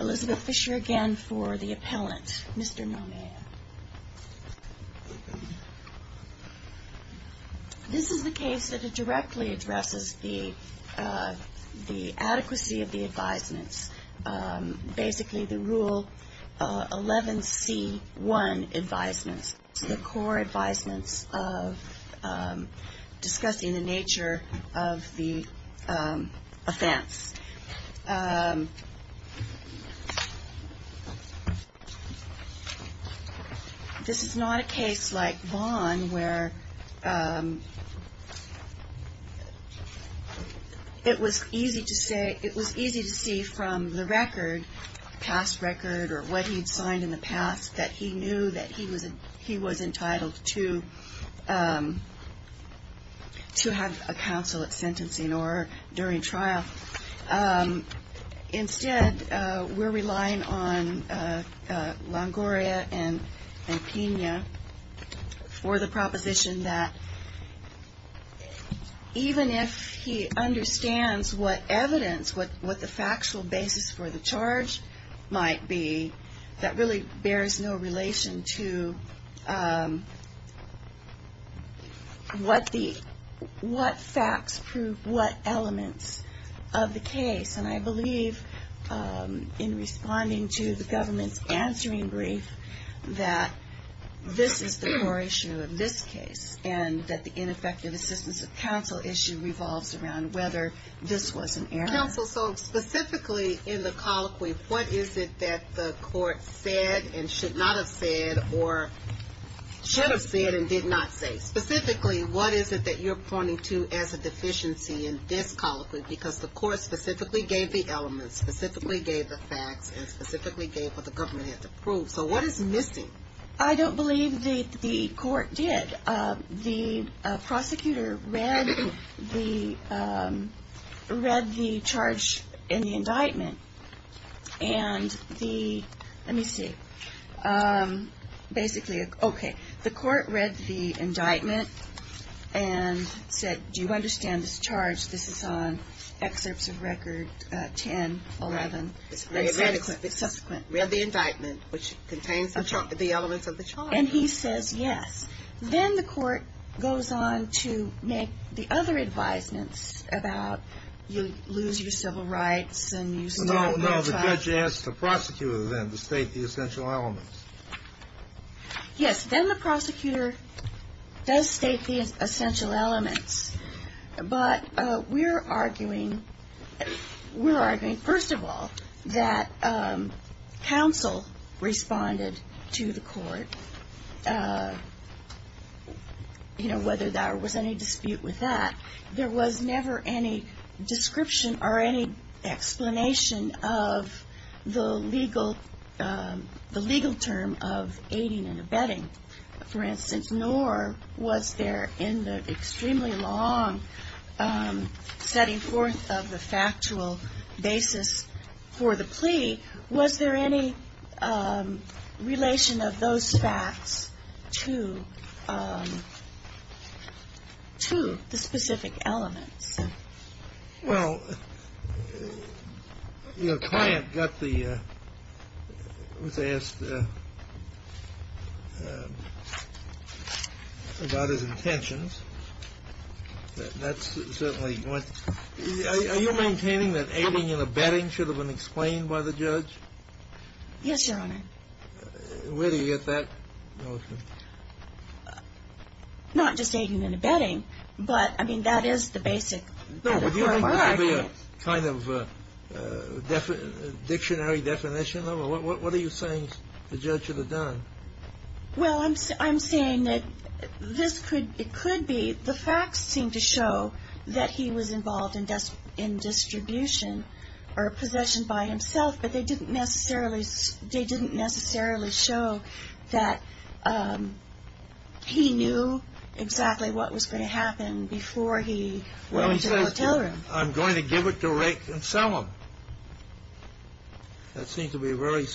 Elizabeth Fisher again for the appellant. Mr. Maumea. This is the case that directly addresses the adequacy of the advisements, basically the Rule 11c1 advisements, the core advisements of discussing the nature of the offense. This is not a case like Vaughn where it was easy to see from the record, past record, or what he'd signed in the past that he knew that he was entitled to have a counsel at sentencing or during trial. Instead, we're relying on Longoria and Pena for the proposition that even if he understands what evidence, what the factual basis for the charge might be, that really bears no relation to what facts prove what elements of the case. And I believe in responding to the government's answering brief that this is the core issue of this case and that the ineffective assistance of counsel issue revolves around whether this was an error. Counsel, so specifically in the colloquy, what is it that the court said and should not have said or should have said and did not say? Specifically, what is it that you're pointing to as a deficiency in this colloquy? Because the court specifically gave the elements, specifically gave the facts, and specifically gave what the government had to prove. So what is missing? I don't believe the court did. The prosecutor read the charge in the indictment and the, let me see, basically, okay. The court read the indictment and said, do you understand this charge? This is on excerpts of record 10, 11. It's very adequate. It's subsequent. Read the indictment, which contains the elements of the charge. And he says, yes. Then the court goes on to make the other advisements about you lose your civil rights and you lose your child. No, no. The judge asked the prosecutor, then, to state the essential elements. Yes. Then the prosecutor does state the essential elements. But we're arguing, we're arguing, first of all, that counsel responded to the court. You know, whether there was any dispute with that. There was never any description or any explanation of the legal, the legal term of aiding and abetting. For instance, nor was there in the extremely long setting forth of the factual basis for the plea, was there any relation of those facts to, to the specific elements? Well, your client got the, was asked about his intentions. That's certainly one. Are you maintaining that aiding and abetting should have been explained by the judge? Yes, Your Honor. Where do you get that notion? Not just aiding and abetting, but, I mean, that is the basic. No, but your client gave me a kind of dictionary definition of it. What are you saying the judge should have done? Well, I'm saying that this could, it could be, the facts seem to show that he was involved in distribution or possession by himself. But they didn't necessarily, they didn't necessarily show that he knew exactly what was going to happen before he went into the hotel room. Well, he said, I'm going to give it to Rick and sell him. That seemed to be a very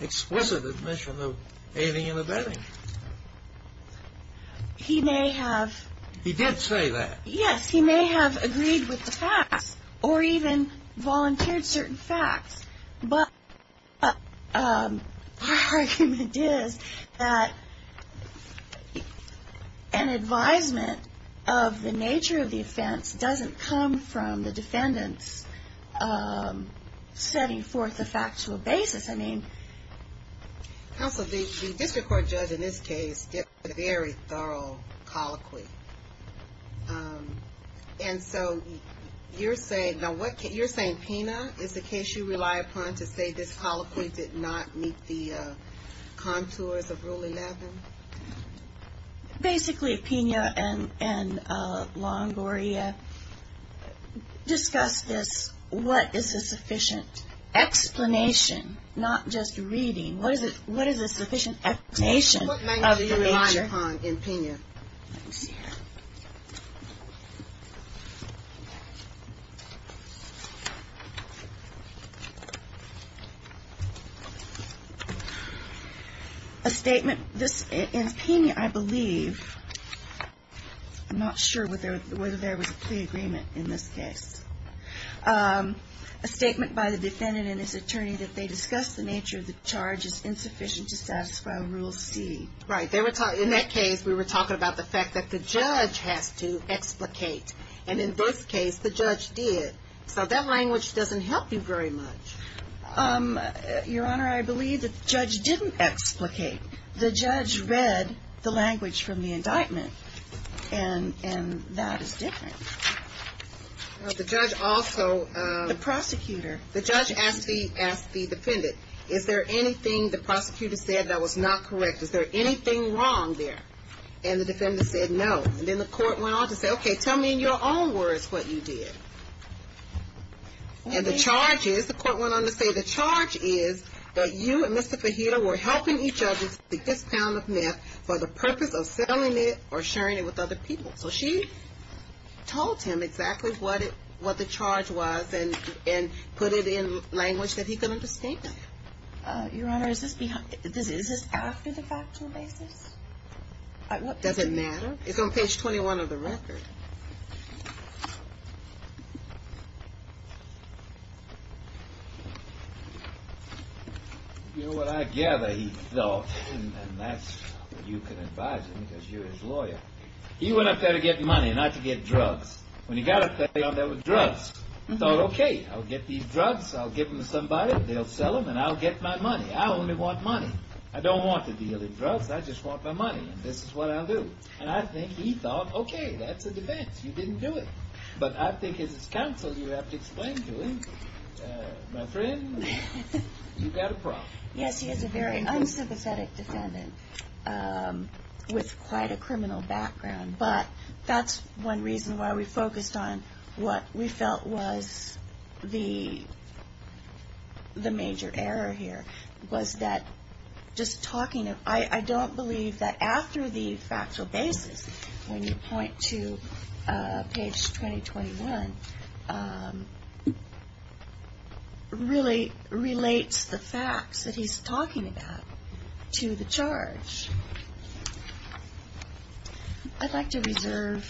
explicit admission of aiding and abetting. He may have. He did say that. Yes, he may have agreed with the facts or even volunteered certain facts. But my argument is that an advisement of the nature of the offense doesn't come from the defendants setting forth the facts to a basis. Counsel, the district court judge in this case did a very thorough colloquy. And so you're saying, now what, you're saying Pina is the case you rely upon to say this colloquy did not meet the contours of Rule 11? Basically, Pina and Longoria discussed this, what is a sufficient explanation, not just reading. What is a sufficient explanation of the nature? What might you rely upon in Pina? Let me see here. A statement, in Pina, I believe, I'm not sure whether there was a plea agreement in this case. A statement by the defendant and his attorney that they discussed the nature of the charge as insufficient to satisfy Rule C. Right. In that case, we were talking about the fact that the judge has to explicate. And in this case, the judge did. So that language doesn't help you very much. Your Honor, I believe the judge didn't explicate. The judge read the language from the indictment. And that is different. Well, the judge also. The prosecutor. The judge asked the defendant, is there anything the prosecutor said that was not correct? Is there anything wrong there? And the defendant said no. And then the court went on to say, okay, tell me in your own words what you did. And the charge is, the court went on to say, the charge is that you and Mr. Fajita were helping each other to get this pound of meth for the purpose of selling it or sharing it with other people. So she told him exactly what the charge was and put it in language that he could understand. Your Honor, is this after the factual basis? Does it matter? It's on page 21 of the record. You know what I gather he thought, and that's what you can advise him because you're his lawyer. He went up there to get money, not to get drugs. When he got up there, he went up there with drugs. He thought, okay, I'll get these drugs. I'll give them to somebody. They'll sell them, and I'll get my money. I only want money. I don't want to deal in drugs. I just want my money, and this is what I'll do. And I think he thought, okay, that's a defense. You didn't do it. But I think as his counsel, you have to explain to him, my friend, you've got a problem. Yes, he is a very unsympathetic defendant with quite a criminal background. But that's one reason why we focused on what we felt was the major error here, was that just talking. I don't believe that after the factual basis, when you point to page 20-21, really relates the facts that he's talking about to the charge. I'd like to reserve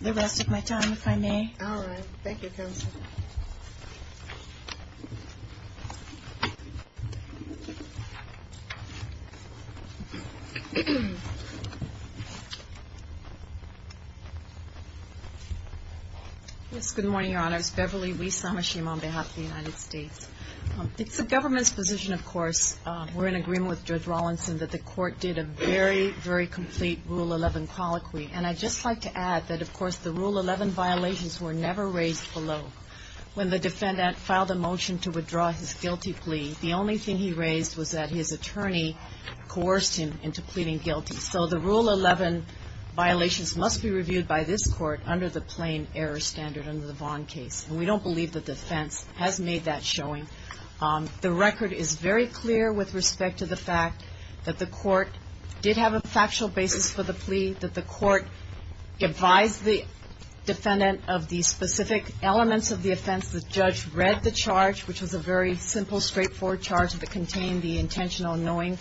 the rest of my time, if I may. All right. Thank you, Counsel. Yes, good morning, Your Honors. Beverly Wiesamashim on behalf of the United States. It's the government's position, of course, we're in agreement with Judge Rawlinson, that the Court did a very, very complete Rule 11 colloquy. And I'd just like to add that, of course, the Rule 11 violations were never raised below. When the defendant filed a motion to withdraw his guilty plea, the only thing he raised was that his attorney coerced him into pleading guilty. So the Rule 11 violations must be reviewed by this Court under the plain error standard under the Vaughn case. And we don't believe the defense has made that showing. The record is very clear with respect to the fact that the Court did have a factual basis for the plea, that the Court advised the defendant of the specific elements of the offense. The judge read the charge, which was a very simple, straightforward charge that contained the intentional knowing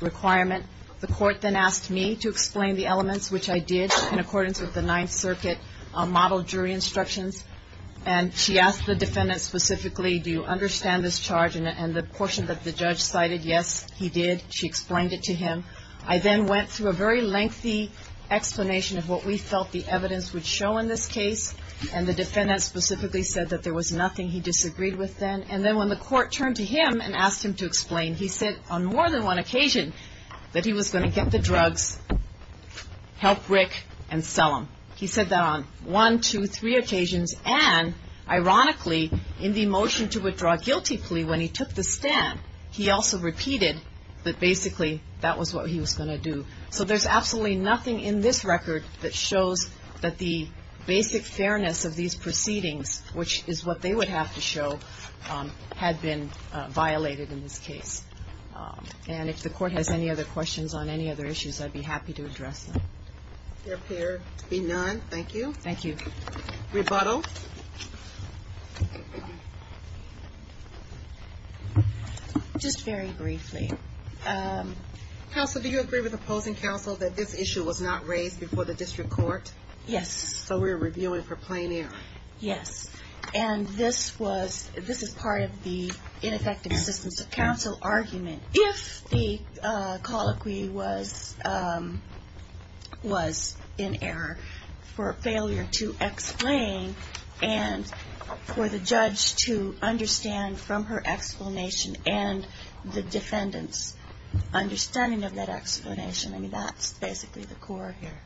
requirement. The Court then asked me to explain the elements, which I did in accordance with the Ninth Circuit model jury instructions. And she asked the defendant specifically, do you understand this charge? And the portion that the judge cited, yes, he did. She explained it to him. I then went through a very lengthy explanation of what we felt the evidence would show in this case. And the defendant specifically said that there was nothing he disagreed with then. And then when the Court turned to him and asked him to explain, he said on more than one occasion that he was going to get the drugs, help Rick, and sell them. He said that on one, two, three occasions. And ironically, in the motion to withdraw a guilty plea, when he took the stand, he also repeated that basically that was what he was going to do. So there's absolutely nothing in this record that shows that the basic fairness of these proceedings, which is what they would have to show, had been violated in this case. And if the Court has any other questions on any other issues, I'd be happy to address them. There appear to be none. Thank you. Thank you. Rebuttal? Just very briefly. Counsel, do you agree with opposing counsel that this issue was not raised before the district court? Yes. So we're reviewing for plain air? Yes. And this is part of the ineffective assistance of counsel argument. If the colloquy was in error for failure to explain and for the judge to understand from her explanation and the defendant's understanding of that explanation, I mean, that's basically the core here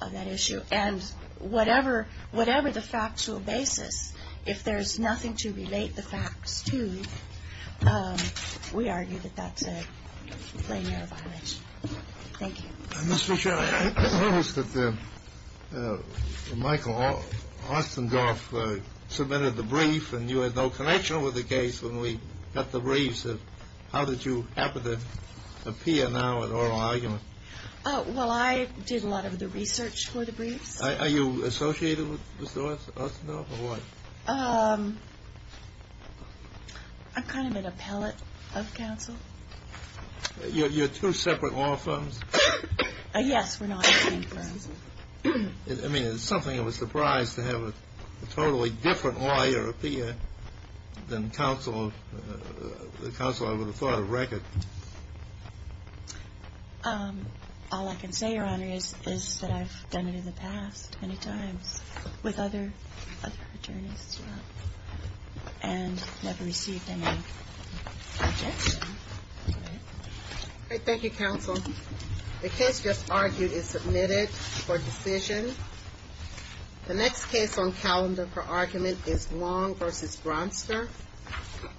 of that issue. And whatever the factual basis, if there's nothing to relate the facts to, we argue that that's a plain air violation. Thank you. Ms. Fisher, I noticed that Michael Ostendorf submitted the brief, and you had no connection with the case when we got the brief. So how did you happen to appear now at oral argument? Well, I did a lot of the research for the briefs. Are you associated with Mr. Ostendorf or what? I'm kind of an appellate of counsel. You're two separate law firms? Yes, we're not the same firms. I mean, it's something of a surprise to have a totally different lawyer appear than the counsel I would have thought of record. All I can say, Your Honor, is that I've done it in the past many times with other attorneys as well, and never received any objection. Great. Thank you, counsel. The case just argued is submitted for decision. The next case on calendar for argument is Long v. Bronster.